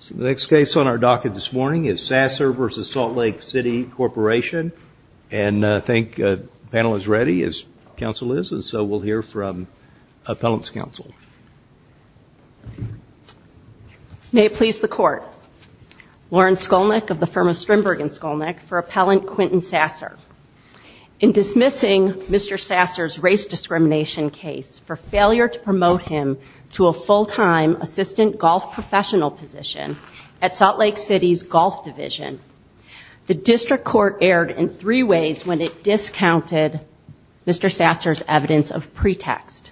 So the next case on our docket this morning is Sasser v. Salt Lake City Corporation. And I think the panel is ready, as counsel is, and so we'll hear from appellant's counsel. May it please the court. Lauren Skolnick of the firm of Strindberg and Skolnick for appellant Quentin Sasser. In dismissing Mr. Sasser's race discrimination case for failure to promote him to a full-time assistant golf professional position at Salt Lake City's golf division, the district court erred in three ways when it discounted Mr. Sasser's evidence of pretext.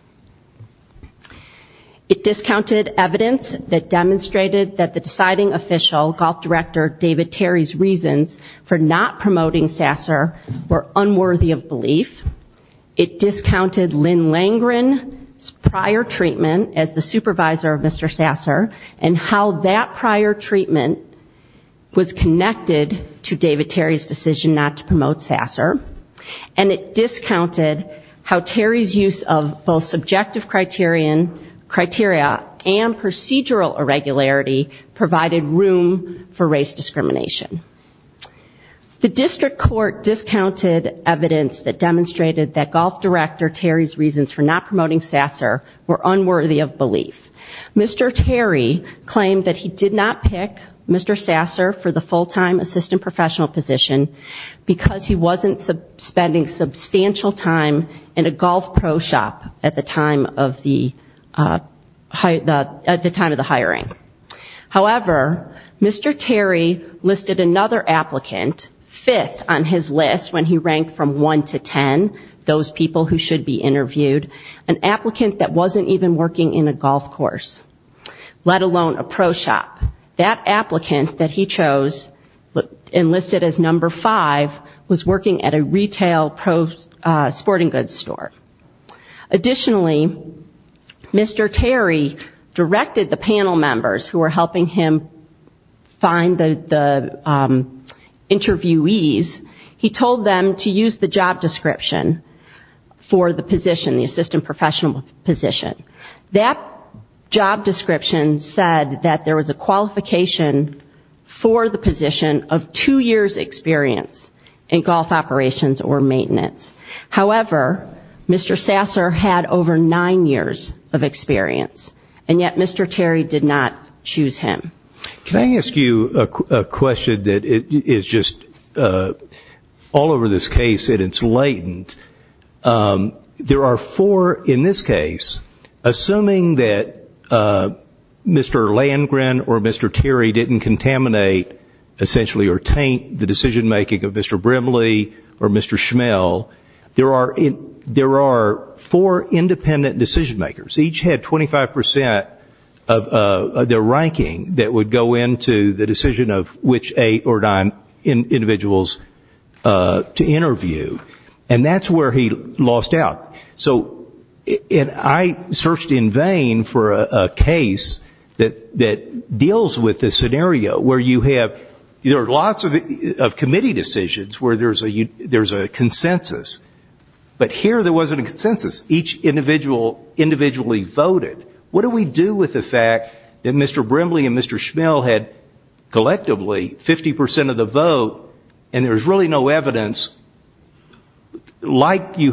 It discounted evidence that demonstrated that the deciding official, golf director David Terry's reasons for not promoting Sasser were unworthy of belief. It discounted Lynn Langren's prior treatment as the supervisor of Mr. Sasser and how that prior treatment was connected to David Terry's decision not to promote Sasser. And it discounted how Terry's use of both subjective criteria and procedural irregularity provided room for race discrimination. The district court discounted evidence that demonstrated that golf director Terry's reasons for not promoting Sasser were unworthy of belief. Mr. Terry claimed that he did not pick Mr. Sasser for the full-time assistant professional position because he wasn't spending substantial time in a golf pro shop at the time of the hiring. However, Mr. Terry listed another applicant, fifth on his list when he ranked from one to ten, those people who should be interviewed, an applicant that wasn't even working in a golf course, let alone a pro shop. That applicant that he chose and listed as number five was working at a retail pro sporting goods store. Additionally, Mr. Terry directed the panel members who were helping him find the interviewees, he told them to use the job description for the position, the assistant professional position. That job description said that there was a qualification for the position of two years' experience in golf operations or maintenance. However, Mr. Sasser had over nine years of experience, and yet Mr. Terry did not choose him. Can I ask you a question that is just all over this case and it's latent. There are four in this case, assuming that Mr. Landgren or Mr. Terry didn't contaminate, essentially or taint the decision-making of Mr. Brimley or Mr. Schmell, there are four independent decision-makers, each had 25% of their ranking that would go into the decision of which eight or nine individuals to interview. And that's where he lost out. So I searched in vain for a case that deals with the scenario where you have, there are lots of committee decisions where there's a consensus, but here there wasn't a consensus. Each individual individually voted. What do we do with the fact that Mr. Brimley and Mr. Schmell had collectively 50% of the vote and there's really no consensus? What do we do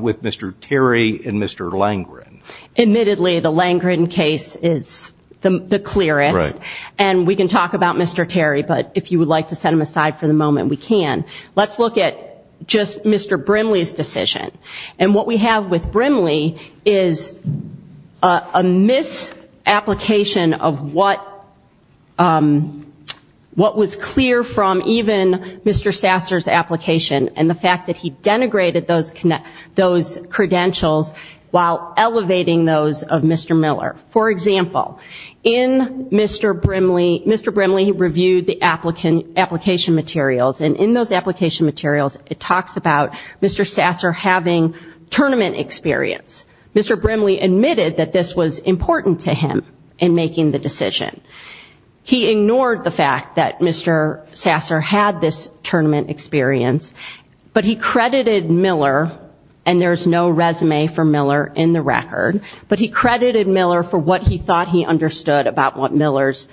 with Mr. Terry and Mr. Landgren? Admittedly, the Landgren case is the clearest, and we can talk about Mr. Terry, but if you would like to set him aside for the moment, we can. Let's look at just Mr. Brimley's decision. And what we have with Brimley is a misapplication of what was clear from even Mr. Sasser's application and the fact that he denigrated those credentials while elevating those of Mr. Miller. For example, in Mr. Brimley, Mr. Brimley reviewed the application materials, and in those application materials it stated that he was having tournament experience. Mr. Brimley admitted that this was important to him in making the decision. He ignored the fact that Mr. Sasser had this tournament experience, but he credited Miller, and there's no resume for Miller in the record, but he credited Miller for what he thought he understood about what Miller's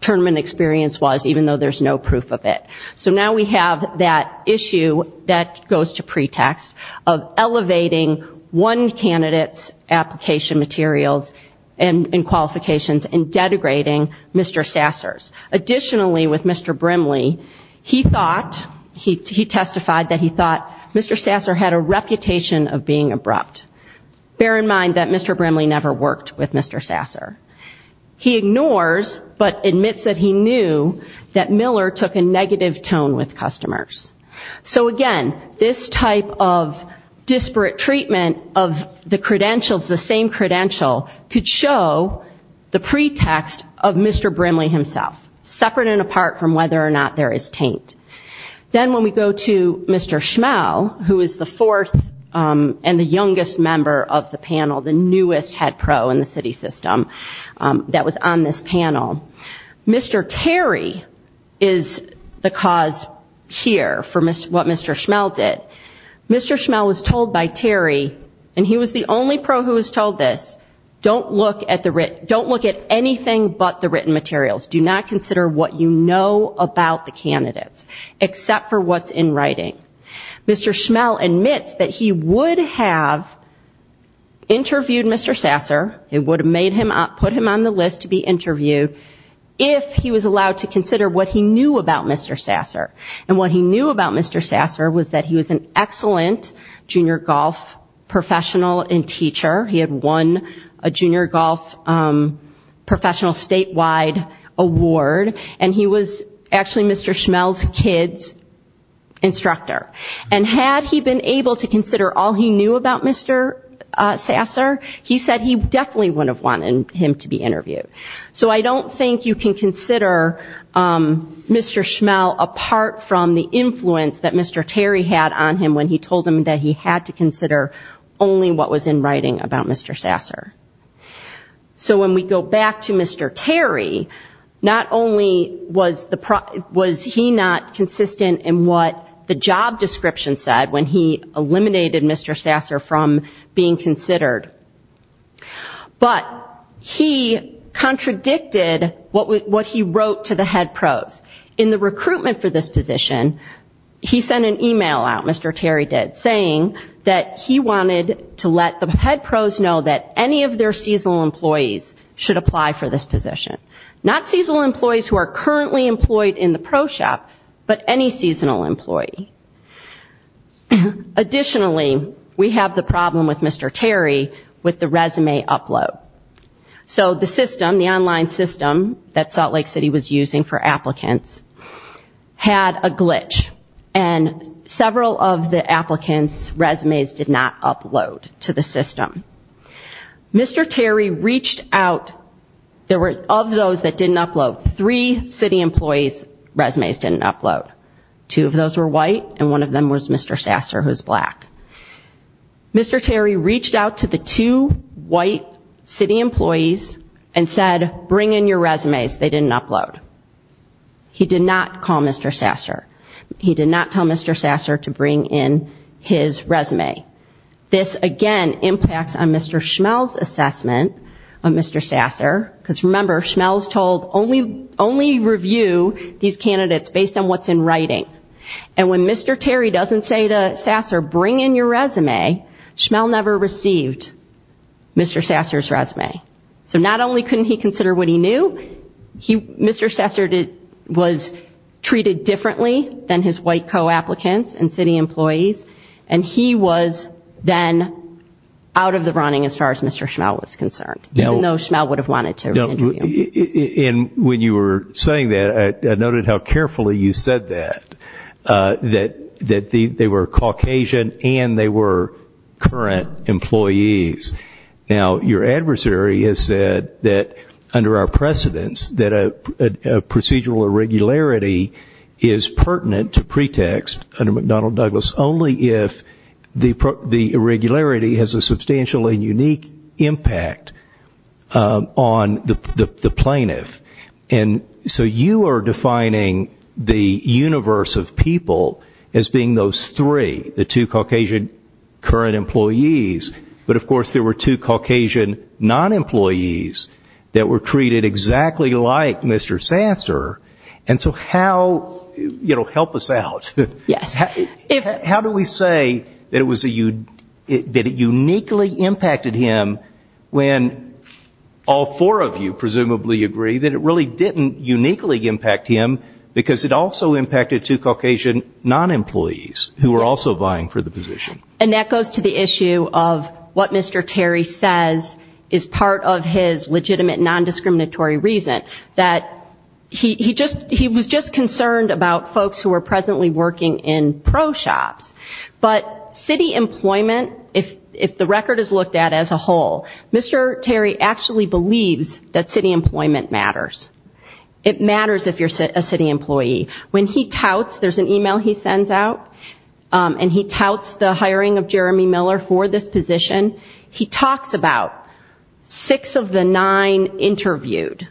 tournament experience was, even though there's no proof of it. So now we have that issue that goes to pretext of elevating one candidate's application materials and qualifications and denigrating Mr. Sasser's. Additionally, with Mr. Brimley, he thought, he testified that he thought Mr. Sasser had a reputation of being abrupt. Bear in mind that Mr. Brimley never worked with Mr. Sasser. He ignores, but admits that he knew that Miller took a negative tone with customers. So again, this type of disparate treatment of the credentials, the same credential, could show the pretext of Mr. Brimley himself, separate and apart from whether or not there is taint. Then when we go to Mr. Schmell, who is the fourth and the youngest member of the panel, the newest head pro in the city system that was on this panel, Mr. Terry is the cause here for what Mr. Schmell did. Mr. Schmell was told by Terry, and he was the only pro who was told this, don't look at anything but the written materials. Do not consider what you know about the candidates, except for what's in writing. Mr. Schmell admits that he would have interviewed Mr. Sasser. It would have put him on the list to be interviewed if he was allowed to consider what he knew about Mr. Sasser. And what he knew about Mr. Sasser was that he was an excellent junior golf professional and teacher. He had won a junior golf professional statewide award, and he was actually Mr. Schmell's kid's instructor. And had he been able to consider all he knew about Mr. Sasser, he said he definitely would not have been interviewed. So I don't think you can consider Mr. Schmell apart from the influence that Mr. Terry had on him when he told him that he had to consider only what was in writing about Mr. Sasser. So when we go back to Mr. Terry, not only was he not consistent in what the job description said when he was interviewed, but he contradicted what he wrote to the head pros. In the recruitment for this position, he sent an email out, Mr. Terry did, saying that he wanted to let the head pros know that any of their seasonal employees should apply for this position. Not seasonal employees who are currently employed in the pro shop, but any seasonal employee. Additionally, we have the problem with Mr. Terry with the resume upload. So the system, the online system that Salt Lake City was using for applicants, had a glitch. And several of the applicants' resumes did not upload to the system. Mr. Terry reached out, there were of those that didn't upload, three city employees' resumes didn't upload. Two of those were white, and one of them was Mr. Sasser, who was black. Mr. Terry reached out to the two white city employees and said, bring in your resumes, they didn't upload. He did not call Mr. Sasser. He did not tell Mr. Sasser to bring in his resume. This, again, impacts on Mr. Schmell's assessment of Mr. Sasser, because remember, Schmell's told, only review these candidates based on what's in writing. And when Mr. Terry doesn't say to Sasser, bring in your resume, Schmell never received Mr. Sasser's resume. So not only couldn't he consider what he knew, Mr. Sasser was treated differently than his white co-applicants and city employees, and he was then out of the running as far as Mr. Schmell was concerned, even though Schmell would have wanted to interview him. And when you were saying that, I noted how carefully you said that, that they were Caucasian and they were current employees. Now, your adversary has said that under our precedence, that a procedural irregularity is pertinent to pretext under McDonnell-Douglas only if the irregularity has a substantially unique impact on the pretext. On the plaintiff. And so you are defining the universe of people as being those three, the two Caucasian current employees, but, of course, there were two Caucasian non-employees that were treated exactly like Mr. Sasser. And so how, you know, help us out. How do we say that it uniquely impacted him when all of a sudden, Mr. Sasser was treated like a Caucasian non-employee? How do we say that all four of you presumably agree that it really didn't uniquely impact him because it also impacted two Caucasian non-employees who were also vying for the position? And that goes to the issue of what Mr. Terry says is part of his legitimate non-discriminatory reason, that he was just concerned about folks who were presently working in pro-shops. But city employment, if the record is looked at as a whole, Mr. Terry actually believes that city employment matters. It matters if you're a city employee. When he touts, there's an email he sends out, and he touts the hiring of Jeremy Miller for this position, he talks about six of the nine interviewed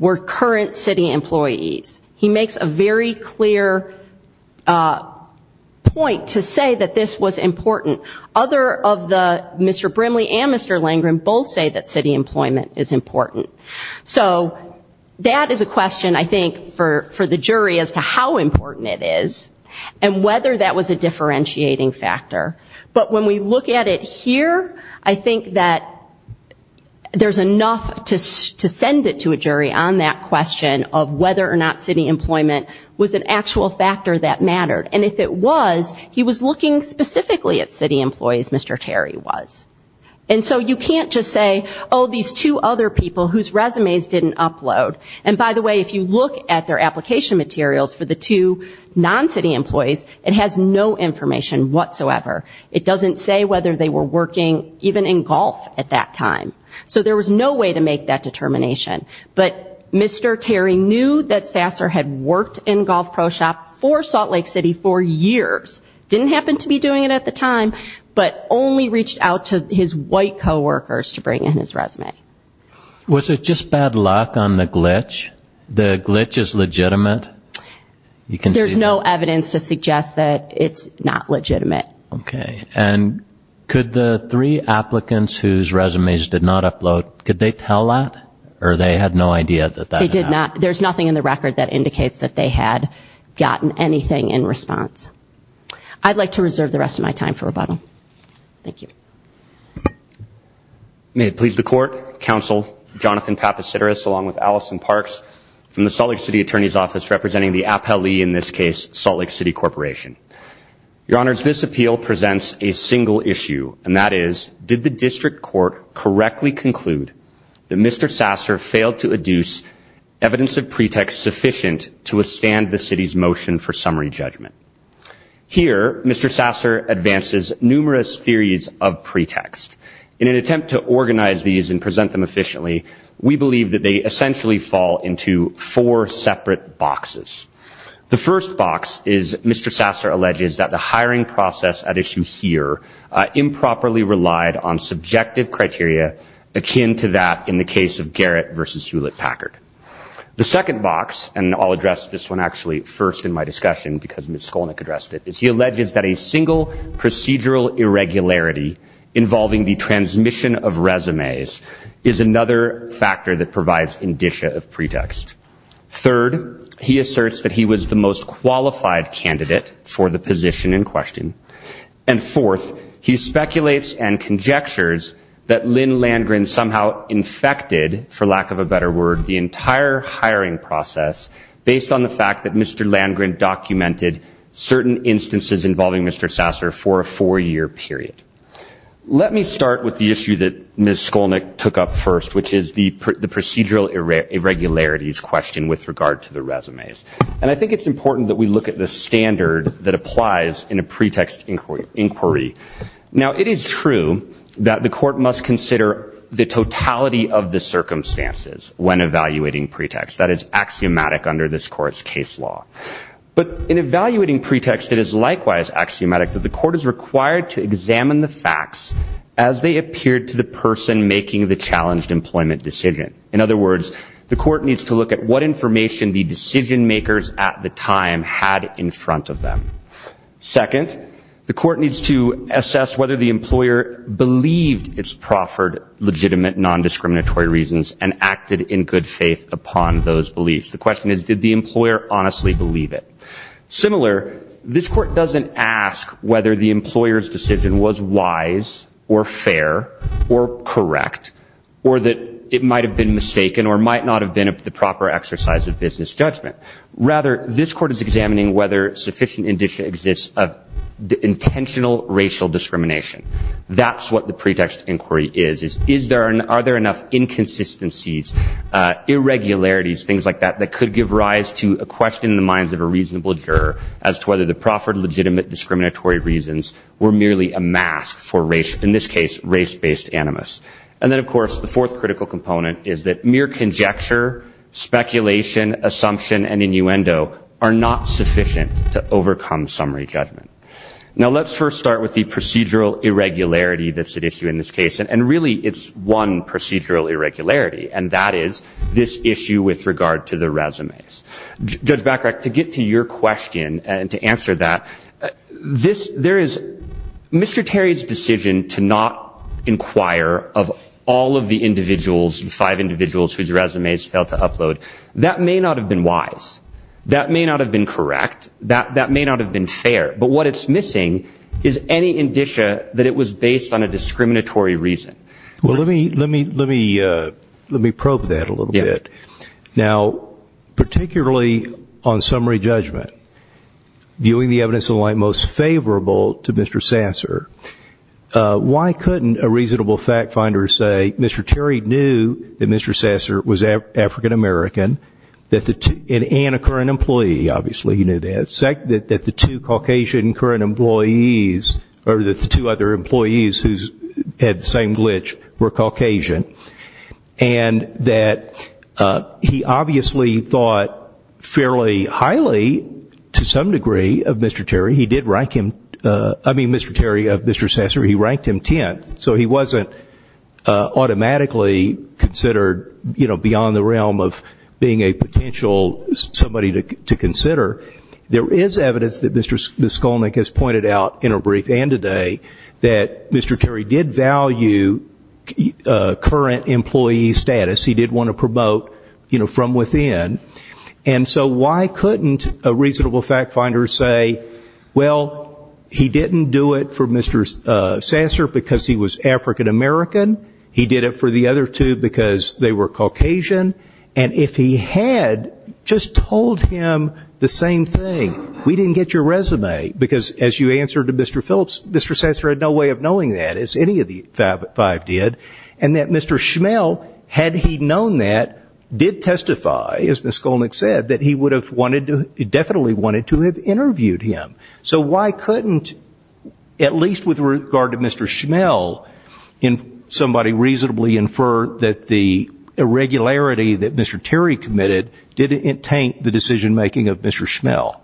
were current city employees. He makes a very clear point to say that this was important. Other of the Mr. Landgren both say that city employment is important. So that is a question I think for the jury as to how important it is, and whether that was a differentiating factor. But when we look at it here, I think that there's enough to send it to a jury on that question of whether or not city employment was an actual factor that mattered. And if it was, he was looking specifically at city employees, Mr. Terry was. And so you can't just say, oh, these two other people whose resumes didn't upload. And by the way, if you look at their application materials for the two non-city employees, it has no information whatsoever. It doesn't say whether they were working even in golf at that time. So there was no way to make that determination. But Mr. Terry knew that Sasser had worked in golf pro-shop for Salt Lake City for years, didn't happen to be doing it at the time, but only reached out to his white coworkers to bring in his resume. Was it just bad luck on the glitch? The glitch is legitimate? There's no evidence to suggest that it's not legitimate. Okay. And could the three applicants whose resumes did not upload, could they tell that? Or they had no idea that that happened? There's nothing in the record that indicates that they had gotten anything in response. I'd like to reserve the rest of my time for rebuttal. Thank you. May it please the Court, Counsel Jonathan Papasiteris along with Allison Parks from the Salt Lake City Attorney's Office representing the appellee in this case, Salt Lake City Corporation. Your Honors, this appeal presents a single issue, and that is, did the district court correctly conclude that Mr. Sasser failed to adduce evidence of pretext sufficient to withstand the City's motion for summary judgment? Here, Mr. Sasser advances numerous theories of pretext. In an attempt to organize these and present them efficiently, we believe that they essentially fall into four separate boxes. The first box is Mr. Sasser alleges that the hiring process at issue here improperly relied on subjective criteria akin to that in the case of Garrett versus Hewlett Packard. The second box, and I'll address this one actually first in my discussion because Ms. Skolnick addressed it, is he alleges that a single procedural irregularity involving the transmission of resumes is another factor that provides indicia of pretext. Third, he asserts that he was the most qualified candidate for the position in question. And fourth, he speculates and conjectures that Lynn Landgren somehow infected, for lack of a better word, the entire hiring process based on the fact that Mr. Landgren documented certain instances involving Mr. Sasser for a four-year period. Let me start with the issue that Ms. Skolnick took up first, which is the procedural irregularities question with regard to the pretext inquiry. Now, it is true that the court must consider the totality of the circumstances when evaluating pretext. That is axiomatic under this court's case law. But in evaluating pretext, it is likewise axiomatic that the court is required to examine the facts as they appeared to the person making the challenged employment decision. In other words, the court needs to look at what information the decision-makers at the time had in front of them. Second, the court needs to assess whether the employer believed its proffered legitimate, non-discriminatory reasons and acted in good faith upon those beliefs. The question is, did the employer honestly believe it? Similar, this court doesn't ask whether the employer's decision was wise or fair or correct, or that it might have been wrong. Or that it might have been mistaken or might not have been the proper exercise of business judgment. Rather, this court is examining whether sufficient indicia exist of intentional racial discrimination. That's what the pretext inquiry is. Are there enough inconsistencies, irregularities, things like that, that could give rise to a question in the minds of a reasonable juror as to whether the proffered legitimate discriminatory reasons were merely a mask for, in this case, race-based animus. And then, of course, the fourth critical component is that mere conjecture, speculation, assumption, and innuendo are not sufficient to overcome summary judgment. Now, let's first start with the procedural irregularity that's at issue in this case. And really, it's one procedural irregularity, and that is this issue with regard to the resumes. Judge Bacharach, to get to your question and to answer that, there is Mr. Terry's decision to not inquire on the basis of the individual's, the five individuals whose resumes failed to upload. That may not have been wise. That may not have been correct. That may not have been fair. But what it's missing is any indicia that it was based on a discriminatory reason. Well, let me probe that a little bit. Now, particularly on summary judgment, viewing the evidence in light most favorable to Mr. Sasser, why couldn't a reasonable fact finder say Mr. Terry knew that Mr. Sasser was African-American, and a current employee, obviously, he knew that, that the two Caucasian current employees, or that the two other employees who had the same glitch were Caucasian, and that he obviously thought fairly highly, to some degree, of Mr. Terry. He did rank him, I mean, Mr. Terry of Mr. Sasser, he ranked him 10th. And that's automatically considered, you know, beyond the realm of being a potential somebody to consider. There is evidence that Mr. Skolnick has pointed out in a brief and today, that Mr. Terry did value current employee status. He did want to promote, you know, from within. And so why couldn't a reasonable fact finder say, well, he didn't do it for Mr. Sasser because he was African-American, he did it for the other two because they were Caucasian, and if he had just told him the same thing, we didn't get your resume, because as you answered to Mr. Phillips, Mr. Sasser had no way of knowing that, as any of the five did, and that Mr. Schmell, had he known that, did testify, as Ms. Skolnick said, that he would have wanted to, definitely wanted to have interviewed him. So why couldn't, at least with regard to Mr. Schmell, somebody reasonably infer that the irregularity that Mr. Terry committed didn't taint the decision-making of Mr. Schmell?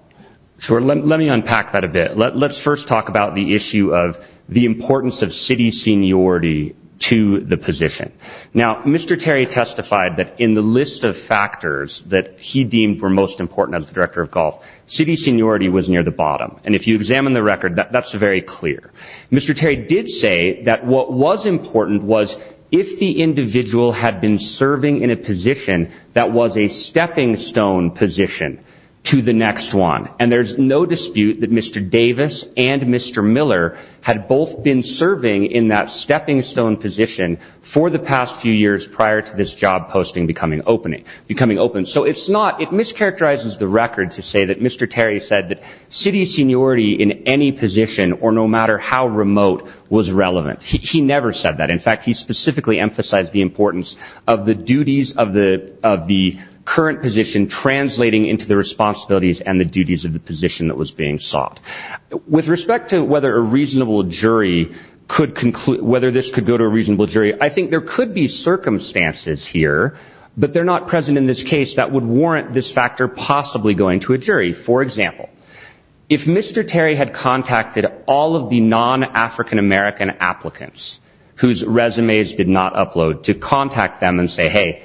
Sure, let me unpack that a bit. Let's first talk about the issue of the importance of city seniority to the position. Now, Mr. Terry testified that in the list of factors that he deemed were most important as the Director of Golf, city seniority was near the bottom, and if you examine the record, that's very clear. Mr. Terry did say that what was important was if the individual had been serving in a position that was a stepping-stone position to the next one, and there's no dispute that Mr. Davis and Mr. Miller had both been serving in that stepping-stone position for the past few years prior to this job posting becoming open. So it's not, it mischaracterizes the record to say that Mr. Terry said that city seniority in any position, or no matter how remote, was relevant. He never said that. In fact, he specifically emphasized the importance of the duties of the current position translating into the responsibilities and the duties of the position that was being sought. With respect to whether a reasonable jury could conclude, whether this could go to a reasonable jury, I think there could be circumstances here, but they're not present in this case that would warrant this factor possibly going to a jury. For example, if Mr. Terry had contacted all of the non-African-American applicants whose resumes did not upload to contact them and say, hey,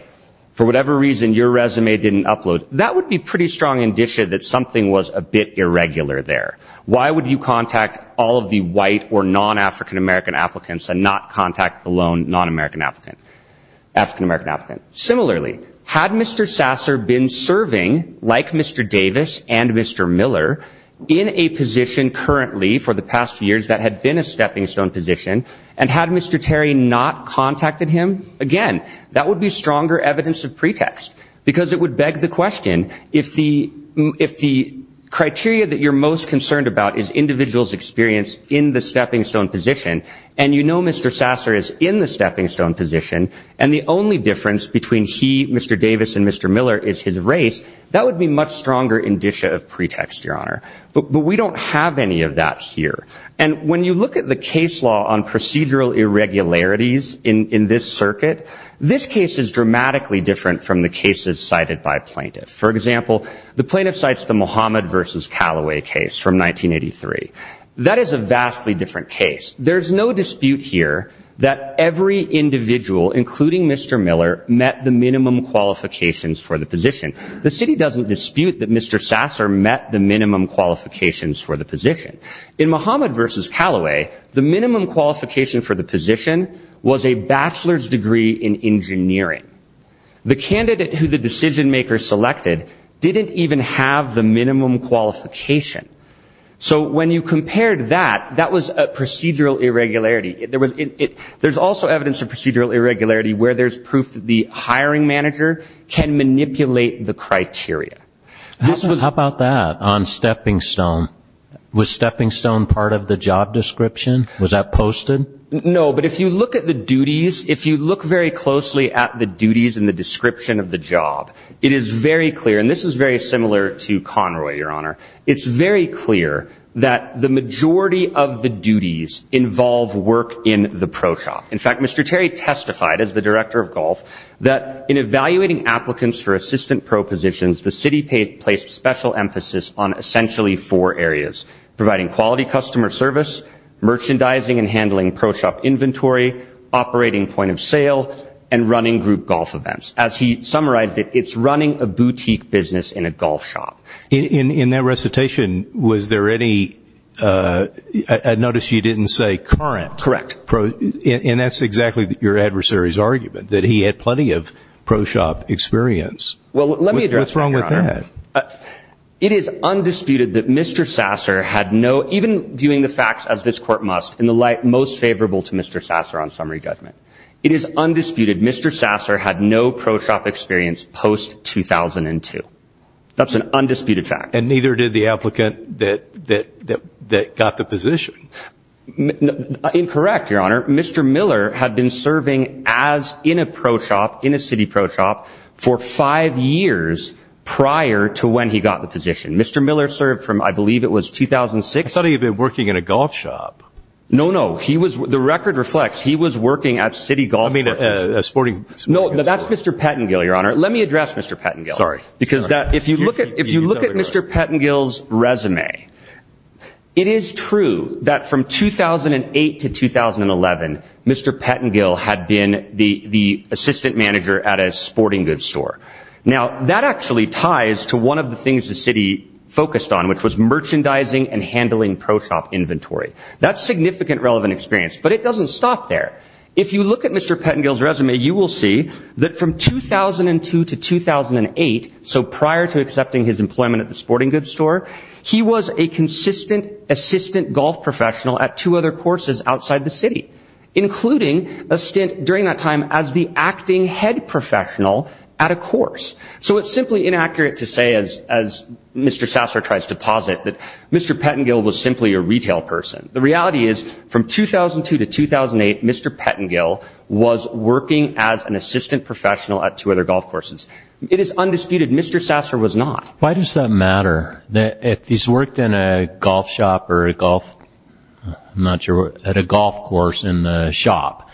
for whatever reason, your resume didn't upload, that would be pretty strong indicia that something was a bit irregular there. Why would you contact all of the white or non-African-American applicants and not contact the lone non-African-American applicant? Similarly, had Mr. Sasser been serving, like Mr. Davis and Mr. Miller, in a position currently for the past few years that had been a stepping-stone position, and had Mr. Terry not contacted him, again, that would be stronger evidence of pretext, because it would beg the question, if the criteria that you're most concerned about is individual's experience in the stepping-stone position, and you know Mr. Sasser is in the stepping-stone position, and the only difference between he, Mr. Davis, and Mr. Miller is his race, that would be much stronger indicia of pretext, Your Honor. But we don't have any of that here. And when you look at the case law on procedural irregularities in this circuit, this case is dramatically different from the cases cited by plaintiffs. For example, the plaintiff cites the Mohammed v. Callaway case from 1983. That is a vastly different case. There's no dispute here that every individual, including Mr. Miller, met the minimum qualifications for the position. The city doesn't dispute that Mr. Sasser met the minimum qualifications for the position. In Mohammed v. Callaway, the minimum qualification for the position was a bachelor's degree in engineering. The candidate who the decision-maker selected didn't even have the minimum qualification. So when you compared that, that was a procedural irregularity. There's also evidence of procedural irregularity where there's proof that the hiring manager can manipulate the criteria. How about that on Stepping Stone? Was Stepping Stone part of the job description? Was that posted? No, but if you look at the duties, if you look very closely at the duties and the description of the job, it is very clear, and this is very similar to Conroy, Your Honor, it's very clear that the majority of the duties involve work in the pro shop. In fact, Mr. Terry testified, as the director of golf, that in evaluating applicants for assistant pro positions, the city placed special emphasis on essentially four areas, providing quality customer service, merchandising and handling pro shop inventory, operating point of sale, and running group golf events. As he summarized it, it's running a boutique business in a golf shop. In that recitation, was there any, I noticed you didn't say current, and that's exactly your adversary's argument, that he had plenty of pro shop inventory. It is undisputed that Mr. Sasser had no, even viewing the facts as this court must, in the light most favorable to Mr. Sasser on summary judgment, it is undisputed Mr. Sasser had no pro shop experience post 2002. That's an undisputed fact. And neither did the applicant that got the position. Incorrect, Your Honor. Mr. Miller had been serving as, in a pro shop, in a city pro shop, for five years prior to Mr. Sasser's tenure, to when he got the position. Mr. Miller served from, I believe it was 2006. I thought he had been working in a golf shop. No, no, he was, the record reflects, he was working at city golf courses. No, that's Mr. Pettengill, Your Honor. Let me address Mr. Pettengill. Sorry. If you look at Mr. Pettengill's resume, it is true that from 2008 to 2011, Mr. Pettengill had been the assistant manager at a sporting goods store. Now, that actually ties to one of the things the city focused on, which was merchandising and handling pro shop inventory. That's significant relevant experience, but it doesn't stop there. If you look at Mr. Pettengill's resume, you will see that from 2002 to 2008, so prior to accepting his employment at the sporting goods store, he was a consistent assistant golf professional at two other courses outside the city, including a stint during that time as the acting head professional at a course. So it's simply inaccurate to say, as Mr. Sasser tries to posit, that Mr. Pettengill was simply a retail person. The reality is, from 2002 to 2008, Mr. Pettengill was working as an assistant professional at two other golf courses. It is undisputed Mr. Sasser was not. Why does that matter? If he's worked in a golf shop or a golf, I'm not sure, at a golf course in the shop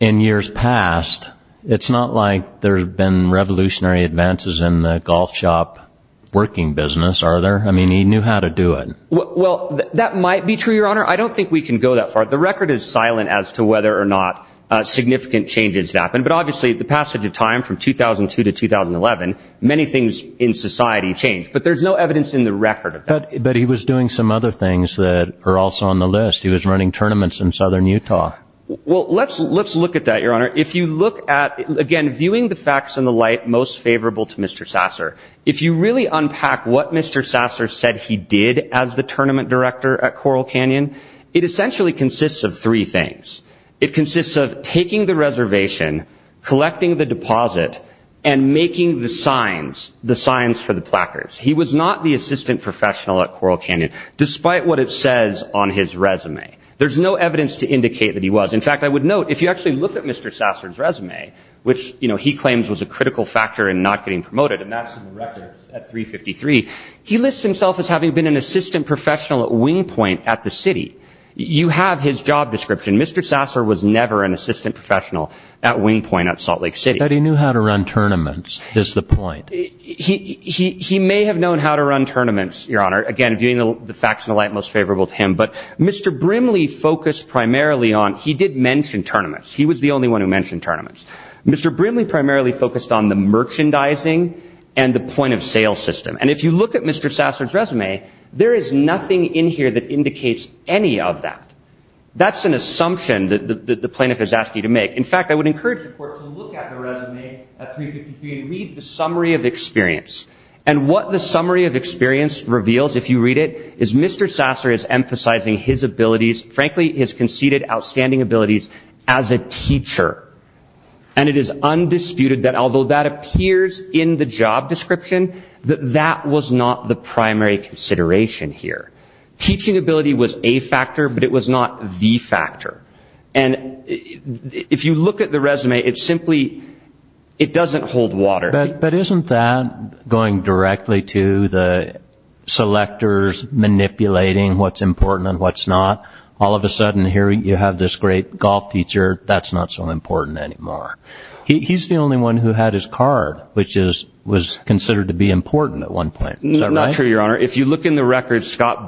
in years past, it's not like there's been revolutionary advances in the golf shop working business, are there? I mean, he knew how to do it. Well, that might be true, Your Honor. I don't think we can go that far. The record is silent as to whether or not significant changes happened, but obviously the passage of time from 2002 to 2011, many things in society changed, but there's no evidence in the record of that. But he was doing some other things that are also on the list. He was running tournaments in southern Utah. Well, let's look at that, Your Honor. If you look at, again, viewing the facts in the light most favorable to Mr. Sasser, if you really unpack what Mr. Sasser said he did as the tournament director at Coral Canyon, it essentially consists of three things. It consists of taking the reservation, collecting the deposit, and making the signs, the signs for the placards. He was not the assistant professional at Coral Canyon, despite what it says on his resume. There's no evidence to indicate that he was. In fact, I would note, if you actually look at Mr. Sasser's resume, which he claims was a critical factor in not getting promoted, and that's in the record at 353, he lists himself as having been an assistant professional at Wingpoint at the city. You have his job description. Mr. Sasser was never an assistant professional at Wingpoint at Salt Lake City. That he knew how to run tournaments is the point. He may have known how to run tournaments, Your Honor, again, viewing the facts in the light most favorable to him, but Mr. Brimley focused primarily on, he did mention tournaments. He was the only one who mentioned tournaments. Mr. Brimley primarily focused on the merchandising and the point of sale system. And if you look at Mr. Sasser's resume, there is nothing in here that indicates any of that. That's an assumption that the plaintiff has asked you to make. In fact, I would encourage the court to look at the resume at 353 and read the summary of experience. And what the summary of experience reveals, if you read it, is Mr. Sasser is emphasizing his abilities, frankly, his conceded outstanding abilities as a teacher. And it is undisputed that although that appears in the job description, that that was not the primary consideration here. Teaching ability was a factor, but it was not the primary factor. And if you look at the resume, it simply, it doesn't hold water. But isn't that going directly to the selectors manipulating what's important and what's not? All of a sudden, here you have this great golf teacher, that's not so important anymore. He's the only one who had his card, which was considered to be important at one point. Is that right? No, that's not true. Mr.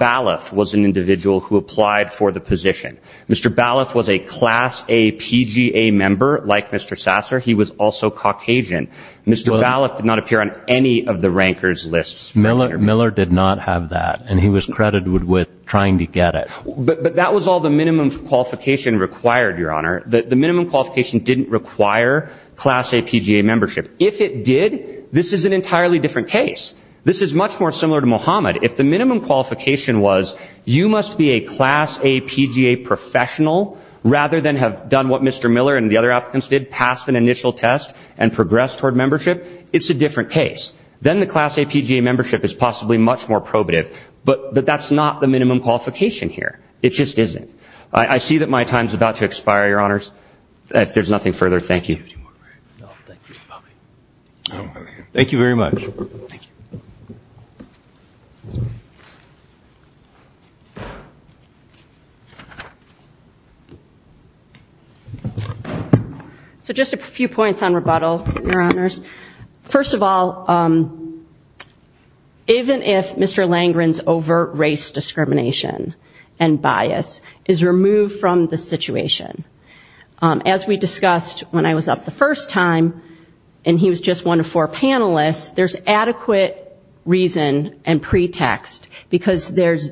Ballef was a class A PGA member, like Mr. Sasser. He was also Caucasian. Mr. Ballef did not appear on any of the ranker's lists. Miller did not have that, and he was credited with trying to get it. But that was all the minimum qualification required, Your Honor. The minimum qualification didn't require class A PGA membership. If it did, this is an entirely different case. This is much more similar to Mohamed. If the minimum qualification was, you must be a class A PGA professional, rather than have done what Mr. Miller and the other applicants did, passed an initial test and progressed toward membership, it's a different case. Then the class A PGA membership is possibly much more probative. But that's not the minimum qualification here. It just isn't. I see that my time is about to expire, Your Honors. If there's nothing further, thank you. Thank you very much. So just a few points on rebuttal, Your Honors. First of all, even if Mr. Langren's overt race discrimination and bias is removed from the situation, as we discussed when I was up the first time, and he was just one of four panelists, there's adequate reason and reasonable reasonable reason that we can put forward a case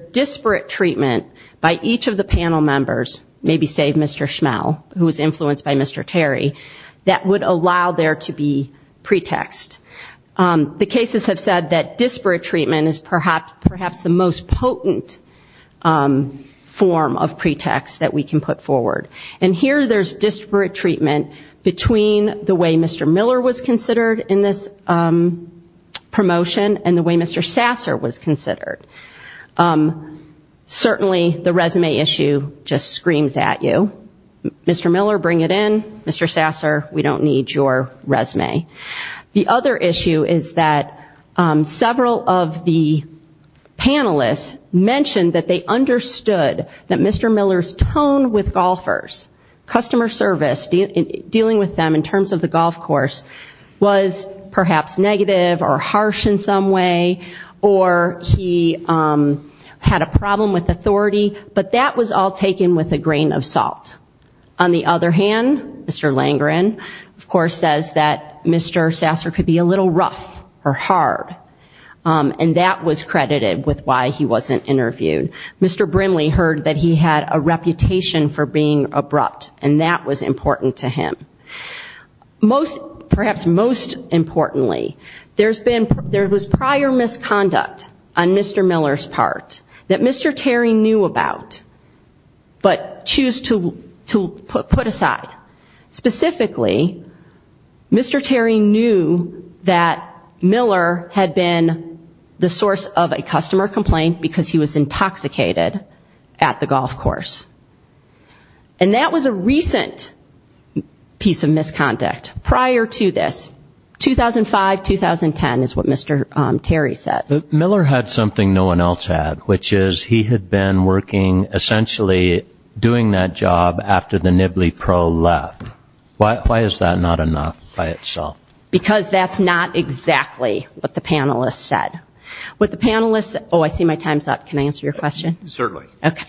that would allow there to be pretext. The cases have said that disparate treatment is perhaps the most potent form of pretext that we can put forward. And here there's disparate treatment between the way Mr. Miller was considered in this promotion and the way Mr. Sasser was considered. Certainly the resume issue just isn't something that just screams at you. Mr. Miller, bring it in. Mr. Sasser, we don't need your resume. The other issue is that several of the panelists mentioned that they understood that Mr. Miller's tone with golfers, customer service, dealing with them in terms of the golf course, was perhaps negative or harsh in some way, or he had a problem with authority. But that was all taken with the grain of salt. On the other hand, Mr. Langren, of course, says that Mr. Sasser could be a little rough or hard, and that was credited with why he wasn't interviewed. Mr. Brimley heard that he had a reputation for being abrupt, and that was important to him. Most, perhaps most importantly, there's been, there was prior misconduct on Mr. Miller's part that Mr. Terry knew about, but choose to put aside. Specifically, Mr. Terry knew that Miller had been the source of a customer complaint because he was intoxicated at the golf course. And that was a recent piece of misconduct prior to this. 2005, 2010 is what Mr. Terry says. Miller had something no one else had, which is he had been working, essentially doing that job after the Nibley Pro left. Why is that not enough by itself? Because that's not exactly what the panelists said. What the panelists, oh, I see my time's up. Can I answer your question? Certainly. Okay.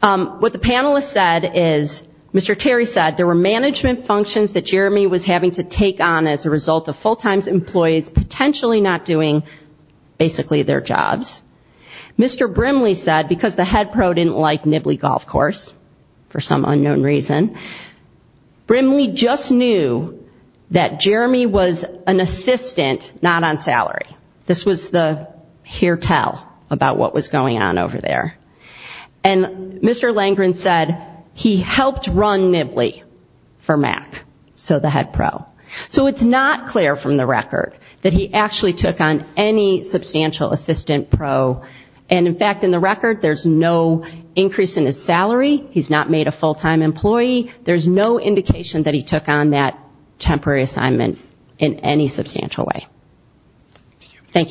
What the panelists said is, Mr. Terry said there were management functions that Jeremy was having to take on as a result of full-time employees potentially not doing basically their jobs. Mr. Brimley said because the head pro didn't like Nibley Golf Course for some unknown reason, Brimley just knew that Jeremy was an assistant not on salary. This was the hear tell about what happened. And Mr. Langren said he helped run Nibley for Mac, so the head pro. So it's not clear from the record that he actually took on any substantial assistant pro. And in fact, in the record, there's no increase in his salary. He's not made a full-time employee. There's no indication that he took on that temporary assignment in any substantial way. Thank you.